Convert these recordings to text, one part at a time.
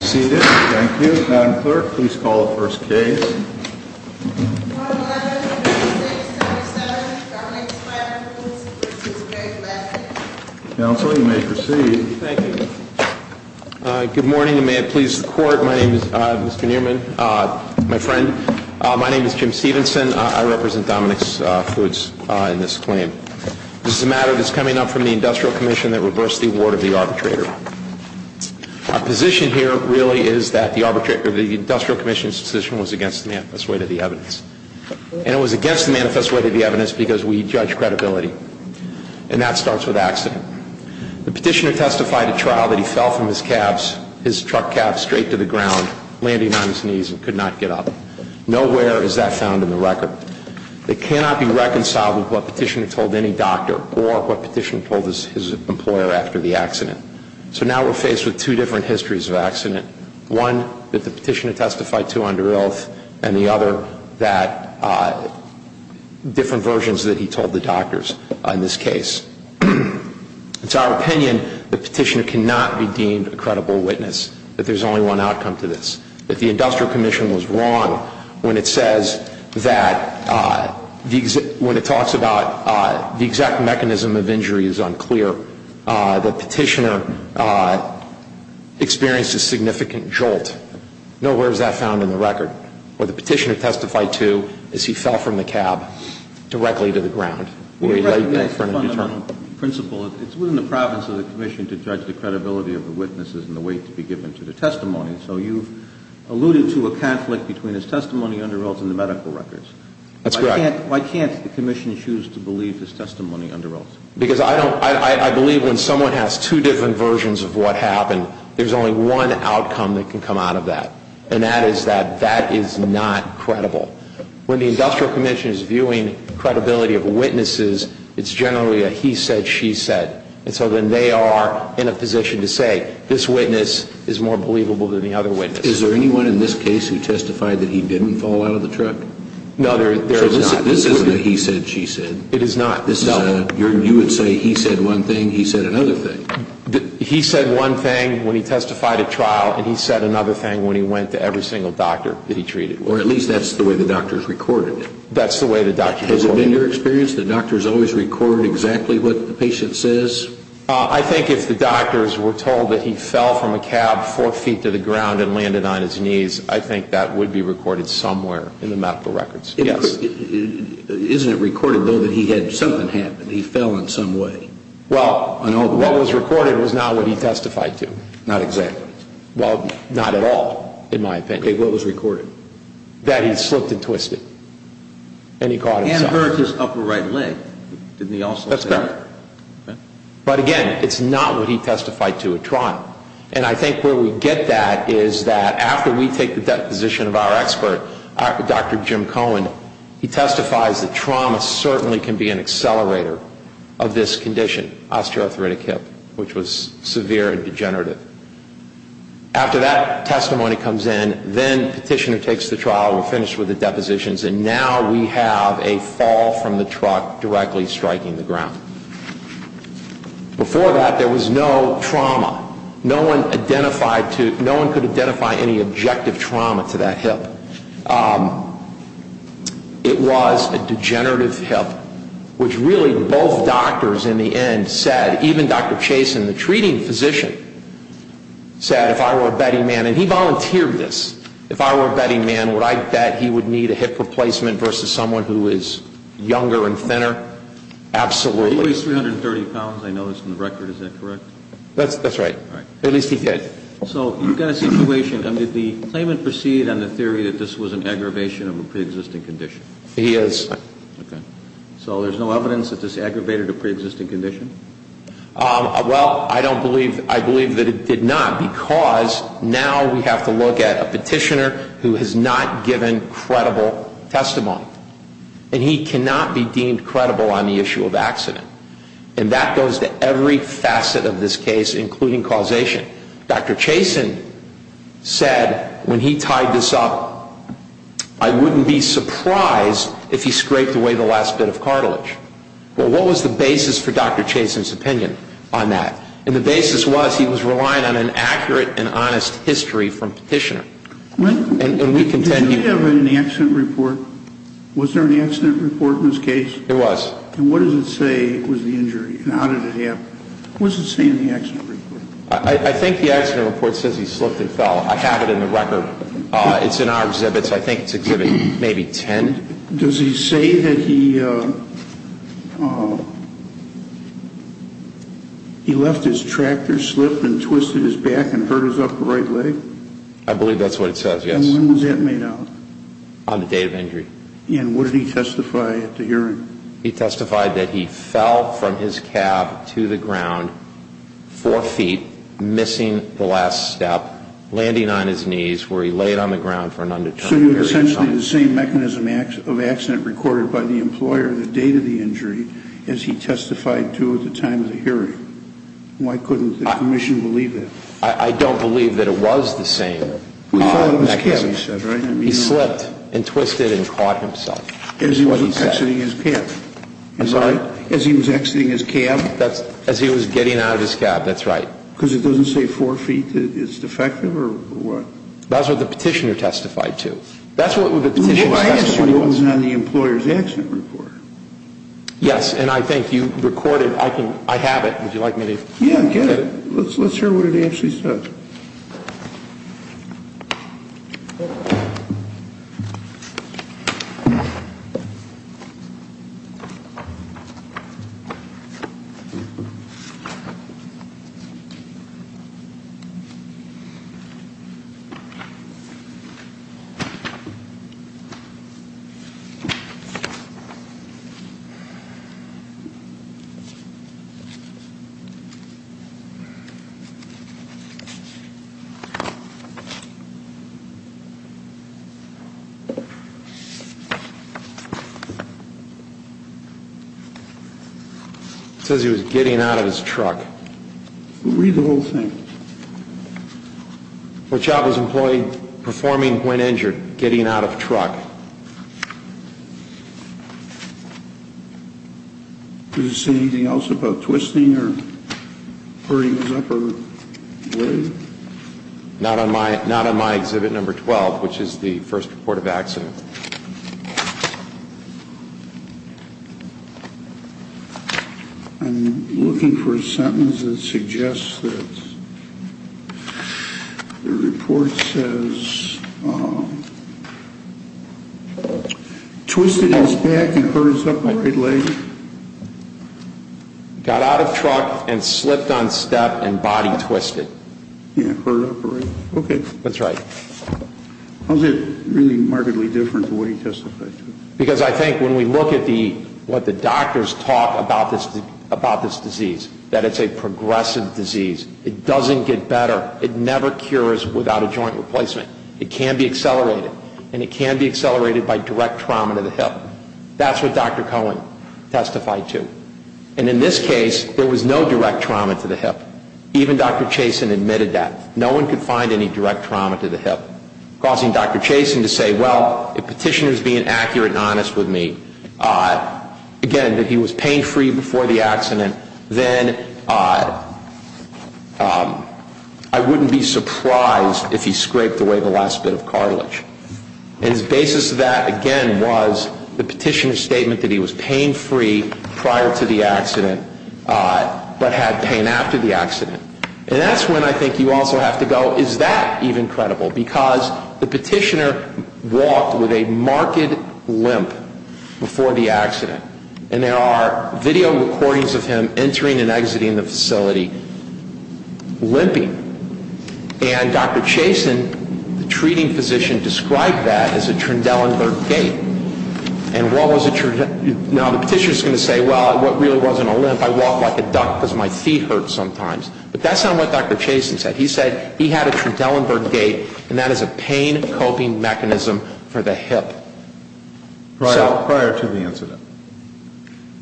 Good morning and may it please the court. My name is Mr. Newman, my friend. My name is Jim Stevenson. I represent Dominicks Foods in this claim. This is a matter that is coming up from the Industrial Commission that reversed the award of the arbitrator. Our position here really is that the Industrial Commission's decision was against the manifest way to the evidence. And it was against the manifest way to the evidence because we judge credibility. And that starts with accident. The petitioner testified at trial that he fell from his cabs, his truck cab straight to the ground, landing on his knees and could not get up. Nowhere is that found in the record. It cannot be reconciled with what petitioner told any doctor or what petitioner told his employer after the accident. So now we're faced with two different histories of accident. One that the petitioner testified to under oath and the other that different versions that he told the doctors in this case. It's our opinion the petitioner cannot be deemed a credible witness, that there's only one outcome to this. If the Industrial Commission was wrong when it says that, when it talks about the exact mechanism of injury is unclear, the petitioner experienced a significant jolt. Nowhere is that found in the record. What the petitioner testified to is he fell from the cab directly to the ground. We recognize the fundamental principle. It's within the province of the Commission to judge the credibility of the witnesses and the weight to be given to the testimony. So you've alluded to a conflict between his testimony under oath and the medical records. That's correct. Why can't the Commission choose to believe his testimony under oath? Because I believe when someone has two different versions of what happened, there's only one outcome that can come out of that. And that is that that is not credible. When the Industrial Commission is viewing credibility of witnesses, it's generally a he said, she said. And so then they are in a position to say this witness is more believable than the other witness. Is there anyone in this case who testified that he didn't fall out of the truck? No, there is not. So this isn't a he said, she said? It is not. You would say he said one thing, he said another thing. He said one thing when he testified at trial, and he said another thing when he went to every single doctor that he treated. Or at least that's the way the doctors recorded it. That's the way the doctors recorded it. Has it been your experience that doctors always record exactly what the patient says? I think if the doctors were told that he fell from a cab four feet to the ground and landed on his knees, I think that would be recorded somewhere in the medical records. Yes. Isn't it recorded though that he had something happen, he fell in some way? Well, what was recorded was not what he testified to. Not exactly. Well, not at all, in my opinion. Okay, what was recorded? That he slipped and twisted. And he caught himself. And hurt his upper right leg. That's correct. But again, it's not what he testified to at trial. And I think where we get that is that after we take the deposition of our expert, Dr. Jim Cohen, he testifies that trauma certainly can be an accelerator of this condition, osteoarthritic hip, which was severe and degenerative. After that testimony comes in, then petitioner takes the trial, we're finished with the depositions, and now we have a fall from the truck directly striking the ground. Before that, there was no trauma. No one identified to, no one could identify any objective trauma to that hip. It was a degenerative hip, which really both doctors in the end said, even Dr. Chasen, the treating physician, said if I were a betting man, and he volunteered this, if I were a betting man, would I bet he would need a hip replacement versus someone who is younger and thinner? Absolutely. He weighs 330 pounds, I noticed in the record. Is that correct? That's right. At least he did. So you've got a situation, and did the claimant proceed on the theory that this was an aggravation of a preexisting condition? He has. Okay. So there's no evidence that this aggravated a preexisting condition? Well, I don't believe, I believe that it did not because now we have to look at a petitioner who has not given credible testimony. And he cannot be deemed credible on the issue of accident. And that goes to every facet of this case, including causation. Dr. Chasen said when he tied this up, I wouldn't be surprised if he scraped away the last bit of cartilage. Well, what was the basis for Dr. Chasen's opinion on that? And the basis was he was relying on an accurate and honest history from petitioner. Did he have an accident report? Was there an accident report in this case? There was. And what does it say was the injury, and how did it happen? What does it say in the accident report? I think the accident report says he slipped and fell. I have it in the record. It's in our exhibits. I think it's exhibit maybe 10. And does he say that he left his tractor, slipped and twisted his back and hurt his upper right leg? I believe that's what it says, yes. And when was that made out? On the date of injury. And what did he testify at the hearing? He testified that he fell from his cab to the ground, four feet, missing the last step, landing on his knees, So he was essentially the same mechanism of accident recorded by the employer the date of the injury as he testified to at the time of the hearing. Why couldn't the commission believe that? I don't believe that it was the same mechanism. He slipped and twisted and caught himself. As he was exiting his cab? I'm sorry? As he was exiting his cab? As he was getting out of his cab, that's right. Because it doesn't say four feet is defective or what? That's what the petitioner testified to. That's what the petitioner testified to. It was on the employer's accident report. Yes. And I think you recorded. I have it. Would you like me to? Yeah, get it. Let's hear what it actually says. It says he was getting out of his truck. Read the whole thing. What job was the employee performing when injured? Getting out of a truck. Does it say anything else about twisting or hurting his upper leg? Not on my exhibit number 12, which is the first report of accident. I'm looking for a sentence that suggests that the report says twisted his back and hurt his upper right leg. Got out of truck and slipped on step and body twisted. Yeah, hurt upper right. Okay. That's right. How is it really markedly different from what he testified to? Because I think when we look at what the doctors talk about this disease, that it's a progressive disease. It doesn't get better. It never cures without a joint replacement. It can be accelerated. And it can be accelerated by direct trauma to the hip. That's what Dr. Cohen testified to. And in this case, there was no direct trauma to the hip. Even Dr. Chasen admitted that. No one could find any direct trauma to the hip, causing Dr. Chasen to say, well, if Petitioner is being accurate and honest with me, again, that he was pain-free before the accident, then I wouldn't be surprised if he scraped away the last bit of cartilage. And his basis of that, again, was the Petitioner's statement that he was pain-free prior to the accident but had pain after the accident. And that's when I think you also have to go, is that even credible? Because the Petitioner walked with a marked limp before the accident. And there are video recordings of him entering and exiting the facility limping. And Dr. Chasen, the treating physician, described that as a Trendelenburg gait. And what was a Trendelenburg gait? Now, the Petitioner is going to say, well, it really wasn't a limp. I walk like a duck because my feet hurt sometimes. But that's not what Dr. Chasen said. He said he had a Trendelenburg gait, and that is a pain-coping mechanism for the hip. Prior to the incident?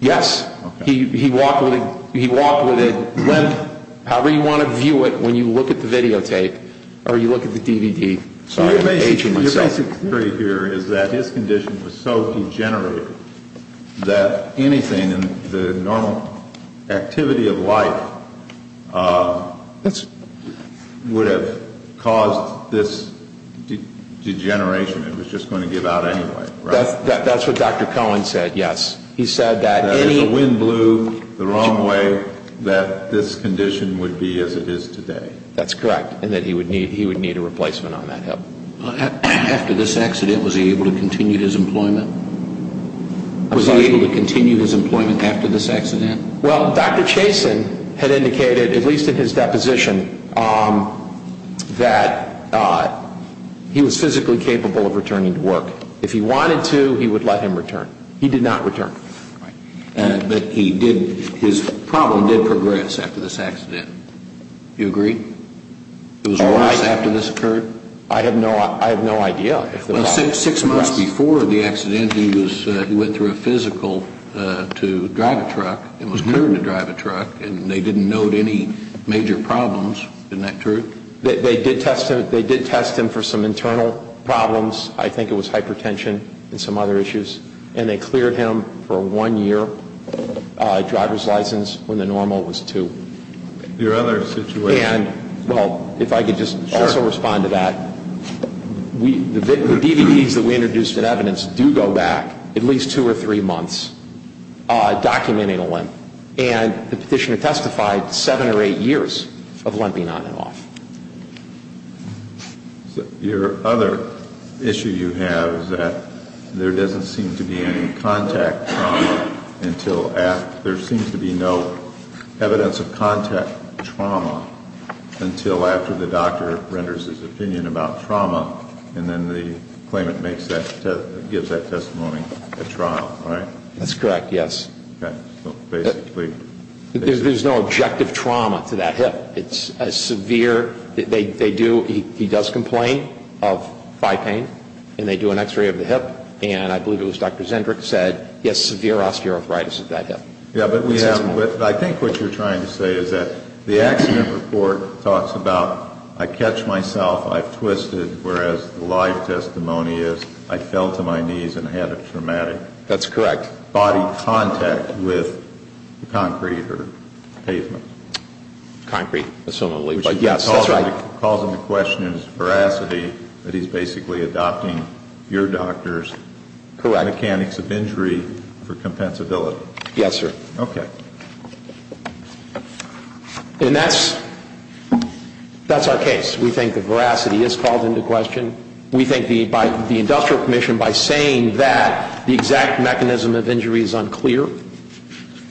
Yes. Okay. He walked with a limp, however you want to view it when you look at the videotape or you look at the DVD. Sorry, I'm aging myself. The difference here is that his condition was so degenerative that anything in the normal activity of life would have caused this degeneration. It was just going to give out anyway, right? That's what Dr. Cohen said, yes. He said that if the wind blew the wrong way, that this condition would be as it is today. That's correct, and that he would need a replacement on that hip. After this accident, was he able to continue his employment? Was he able to continue his employment after this accident? Well, Dr. Chasen had indicated, at least in his deposition, that he was physically capable of returning to work. If he wanted to, he would let him return. He did not return. But his problem did progress after this accident. Do you agree? It was worse after this occurred? I have no idea. Six months before the accident, he went through a physical to drive a truck. It was clear to drive a truck, and they didn't note any major problems. Isn't that true? They did test him for some internal problems. I think it was hypertension and some other issues, and they cleared him for a one-year driver's license when the normal was two. Your other situation? Well, if I could just also respond to that. The DVDs that we introduced as evidence do go back at least two or three months documenting a limp. And the petitioner testified seven or eight years of limping on and off. So your other issue you have is that there doesn't seem to be any contact trauma until after. There seems to be no evidence of contact trauma until after the doctor renders his opinion about trauma, and then the claimant gives that testimony at trial, right? That's correct, yes. Okay. There's no objective trauma to that hip. It's a severe, they do, he does complain of thigh pain, and they do an x-ray of the hip, and I believe it was Dr. Zendrick said he has severe osteoarthritis of that hip. Yeah, but I think what you're trying to say is that the accident report talks about I catch myself, I've twisted, whereas the live testimony is I fell to my knees and had a traumatic body contact with concrete or pavement. Concrete. Which calls into question his veracity that he's basically adopting your doctor's mechanics of injury for compensability. Yes, sir. Okay. And that's our case. We think the veracity is called into question. We think the industrial commission, by saying that the exact mechanism of injury is unclear,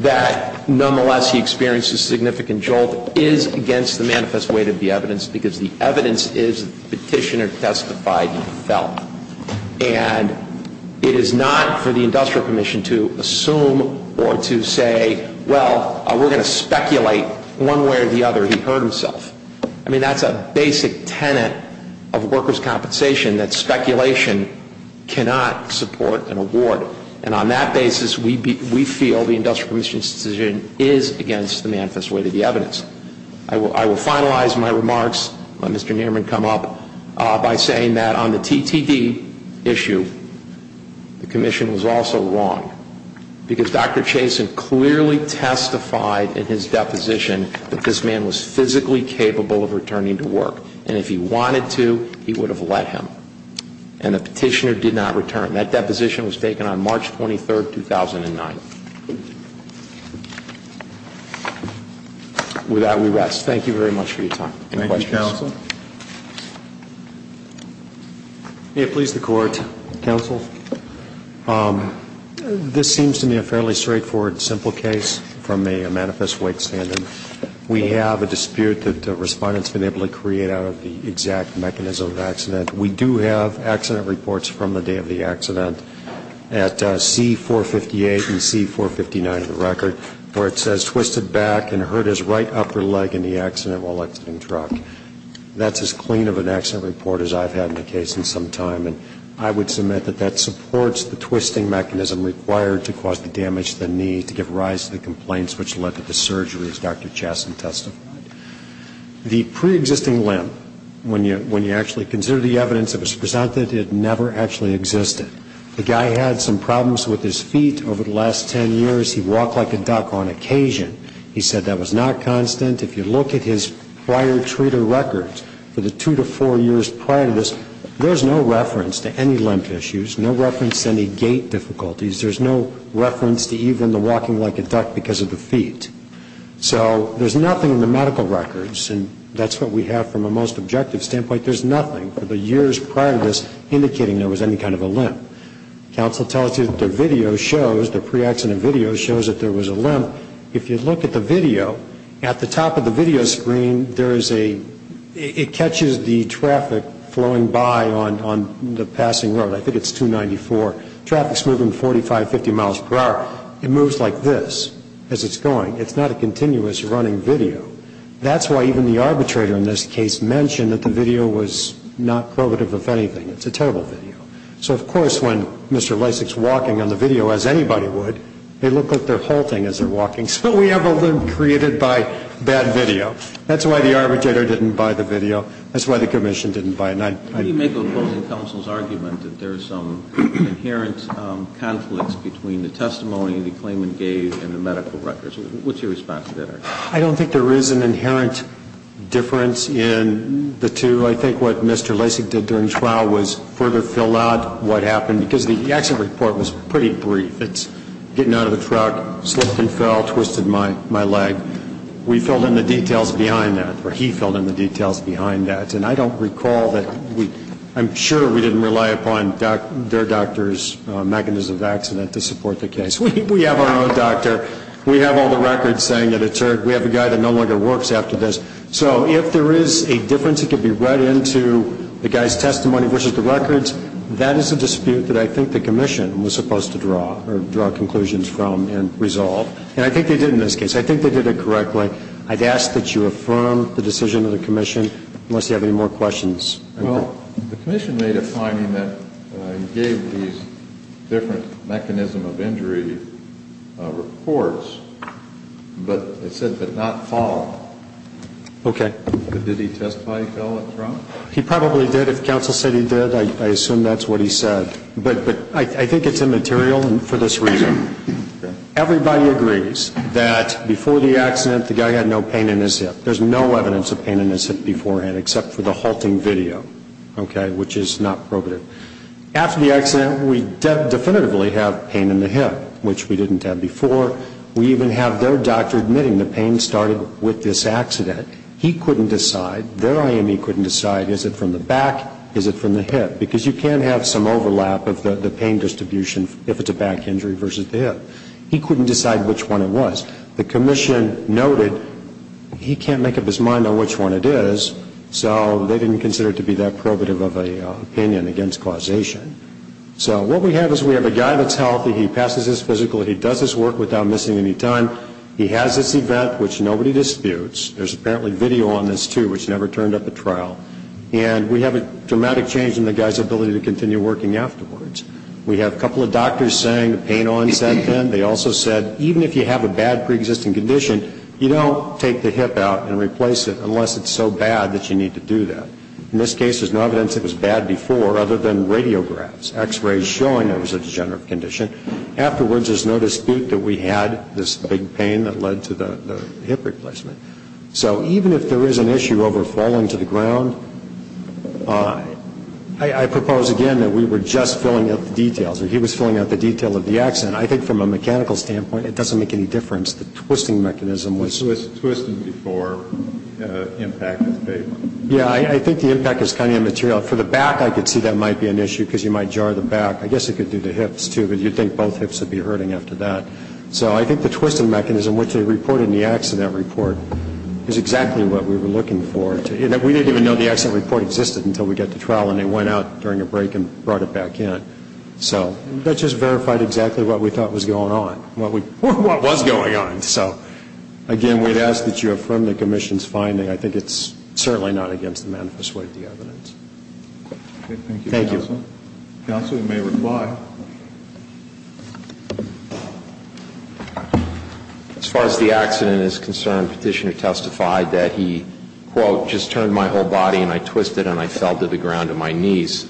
that nonetheless he experienced a significant jolt is against the manifest weight of the evidence because the evidence is the petitioner testified he fell. And it is not for the industrial commission to assume or to say, well, we're going to speculate one way or the other he hurt himself. I mean, that's a basic tenet of workers' compensation, that speculation cannot support an award. And on that basis, we feel the industrial commission's decision is against the manifest weight of the evidence. I will finalize my remarks, let Mr. Nierman come up, by saying that on the TTD issue, the commission was also wrong. Because Dr. Chasen clearly testified in his deposition that this man was physically capable of returning to work. And if he wanted to, he would have let him. And the petitioner did not return. That deposition was taken on March 23, 2009. With that, we rest. Thank you very much for your time. Any questions? Thank you, counsel. May it please the Court. Counsel. This seems to me a fairly straightforward, simple case from a manifest weight stand-in. We have a dispute that the Respondent has been able to create out of the exact mechanism of accident. We do have accident reports from the day of the accident at C-458 and C-459 of the record, where it says twisted back and hurt his right upper leg in the accident while exiting truck. That's as clean of an accident report as I've had in a case in some time. And I would submit that that supports the twisting mechanism required to cause the damage to the knee to give rise to the complaints which led to the surgery, as Dr. Chasen testified. The pre-existing limp, when you actually consider the evidence that was presented, it never actually existed. The guy had some problems with his feet over the last ten years. He walked like a duck on occasion. He said that was not constant. If you look at his prior treater records for the two to four years prior to this, there's no reference to any limp issues, no reference to any gait difficulties. There's no reference to even the walking like a duck because of the feet. So there's nothing in the medical records, and that's what we have from a most objective standpoint. There's nothing for the years prior to this indicating there was any kind of a limp. Counsel tells you that the video shows, the pre-accident video shows that there was a limp. If you look at the video, at the top of the video screen, there is a, it catches the traffic flowing by on the passing road. I think it's 294. Traffic's moving 45, 50 miles per hour. It moves like this as it's going. It's not a continuous running video. That's why even the arbitrator in this case mentioned that the video was not probative of anything. It's a terrible video. So, of course, when Mr. Lysak's walking on the video, as anybody would, they look like they're halting as they're walking. So we have a limp created by bad video. That's why the arbitrator didn't buy the video. That's why the commission didn't buy it. How do you make a closing counsel's argument that there are some inherent conflicts between the testimony the claimant gave and the medical records? What's your response to that argument? I don't think there is an inherent difference in the two. I think what Mr. Lysak did during trial was further fill out what happened, because the accident report was pretty brief. It's getting out of the truck, slipped and fell, twisted my leg. We filled in the details behind that, or he filled in the details behind that. And I don't recall that we – I'm sure we didn't rely upon their doctor's mechanism of accident to support the case. We have our own doctor. We have all the records saying that we have a guy that no longer works after this. So if there is a difference that can be read into the guy's testimony versus the records, that is a dispute that I think the commission was supposed to draw conclusions from and resolve. And I think they did in this case. I think they did it correctly. So I'd ask that you affirm the decision of the commission, unless you have any more questions. Well, the commission made a finding that he gave these different mechanism of injury reports, but it said that it did not fall. Okay. Did he testify he fell at trial? He probably did. If counsel said he did, I assume that's what he said. But I think it's immaterial for this reason. Everybody agrees that before the accident, the guy had no pain in his hip. There's no evidence of pain in his hip beforehand except for the halting video, okay, which is not probative. After the accident, we definitively have pain in the hip, which we didn't have before. We even have their doctor admitting the pain started with this accident. He couldn't decide, their IME couldn't decide, is it from the back, is it from the hip, because you can have some overlap of the pain distribution if it's a back injury versus the hip. He couldn't decide which one it was. The commission noted he can't make up his mind on which one it is, so they didn't consider it to be that probative of an opinion against causation. So what we have is we have a guy that's healthy. He passes his physical. He does his work without missing any time. He has this event, which nobody disputes. There's apparently video on this, too, which never turned up at trial. And we have a dramatic change in the guy's ability to continue working afterwards. We have a couple of doctors saying the pain onset then. They also said even if you have a bad preexisting condition, you don't take the hip out and replace it unless it's so bad that you need to do that. In this case, there's no evidence it was bad before other than radiographs, x-rays showing there was a degenerative condition. Afterwards, there's no dispute that we had this big pain that led to the hip replacement. So even if there is an issue over falling to the ground, I propose again that we were just filling out the details, or he was filling out the details of the accident. I think from a mechanical standpoint, it doesn't make any difference. The twisting mechanism was ‑‑ It was twisting before impact of the pavement. Yeah, I think the impact is kind of immaterial. For the back, I could see that might be an issue because you might jar the back. I guess it could do to hips, too, but you'd think both hips would be hurting after that. So I think the twisting mechanism, which they reported in the accident report, is exactly what we were looking for. We didn't even know the accident report existed until we got to trial and they went out during a break and brought it back in. So that just verified exactly what we thought was going on, what was going on. So again, we'd ask that you affirm the commission's finding. I think it's certainly not against the manifest way of the evidence. Thank you, counsel. Counsel, you may reply. As far as the accident is concerned, petitioner testified that he, quote, just turned my whole body and I twisted and I fell to the ground on my knees.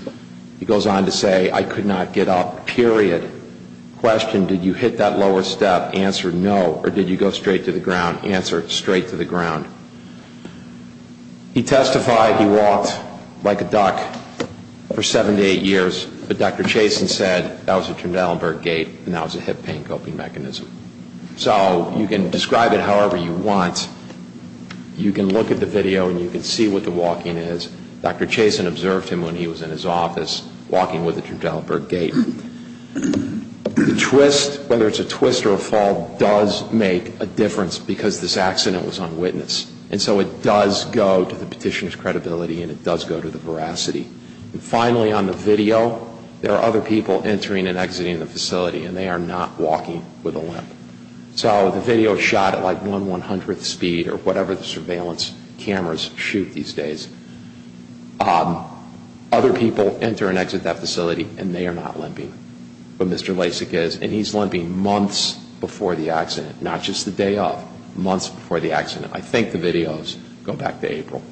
He goes on to say, I could not get up, period. Question, did you hit that lower step? Answer, no. Or did you go straight to the ground? Answer, straight to the ground. He testified he walked like a duck for seven to eight years, but Dr. Chasen said that was a Trundleberg gait and that was a hip pain coping mechanism. So you can describe it however you want. You can look at the video and you can see what the walking is. Dr. Chasen observed him when he was in his office walking with a Trundleberg gait. The twist, whether it's a twist or a fall, does make a difference because this accident was unwitnessed. And so it does go to the petitioner's credibility and it does go to the veracity. And finally, on the video, there are other people entering and exiting the facility and they are not walking with a limp. So the video is shot at like 1,100th speed or whatever the surveillance cameras shoot these days. Other people enter and exit that facility and they are not limping. But Mr. Lasik is, and he's limping months before the accident, not just the day of, months before the accident. I think the videos go back to April.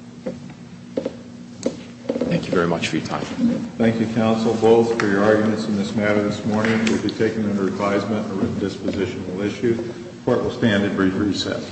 Thank you very much for your time. Thank you, counsel, both for your arguments in this matter this morning. It will be taken under advisement and a redispositional issue. The court will stand at brief recess.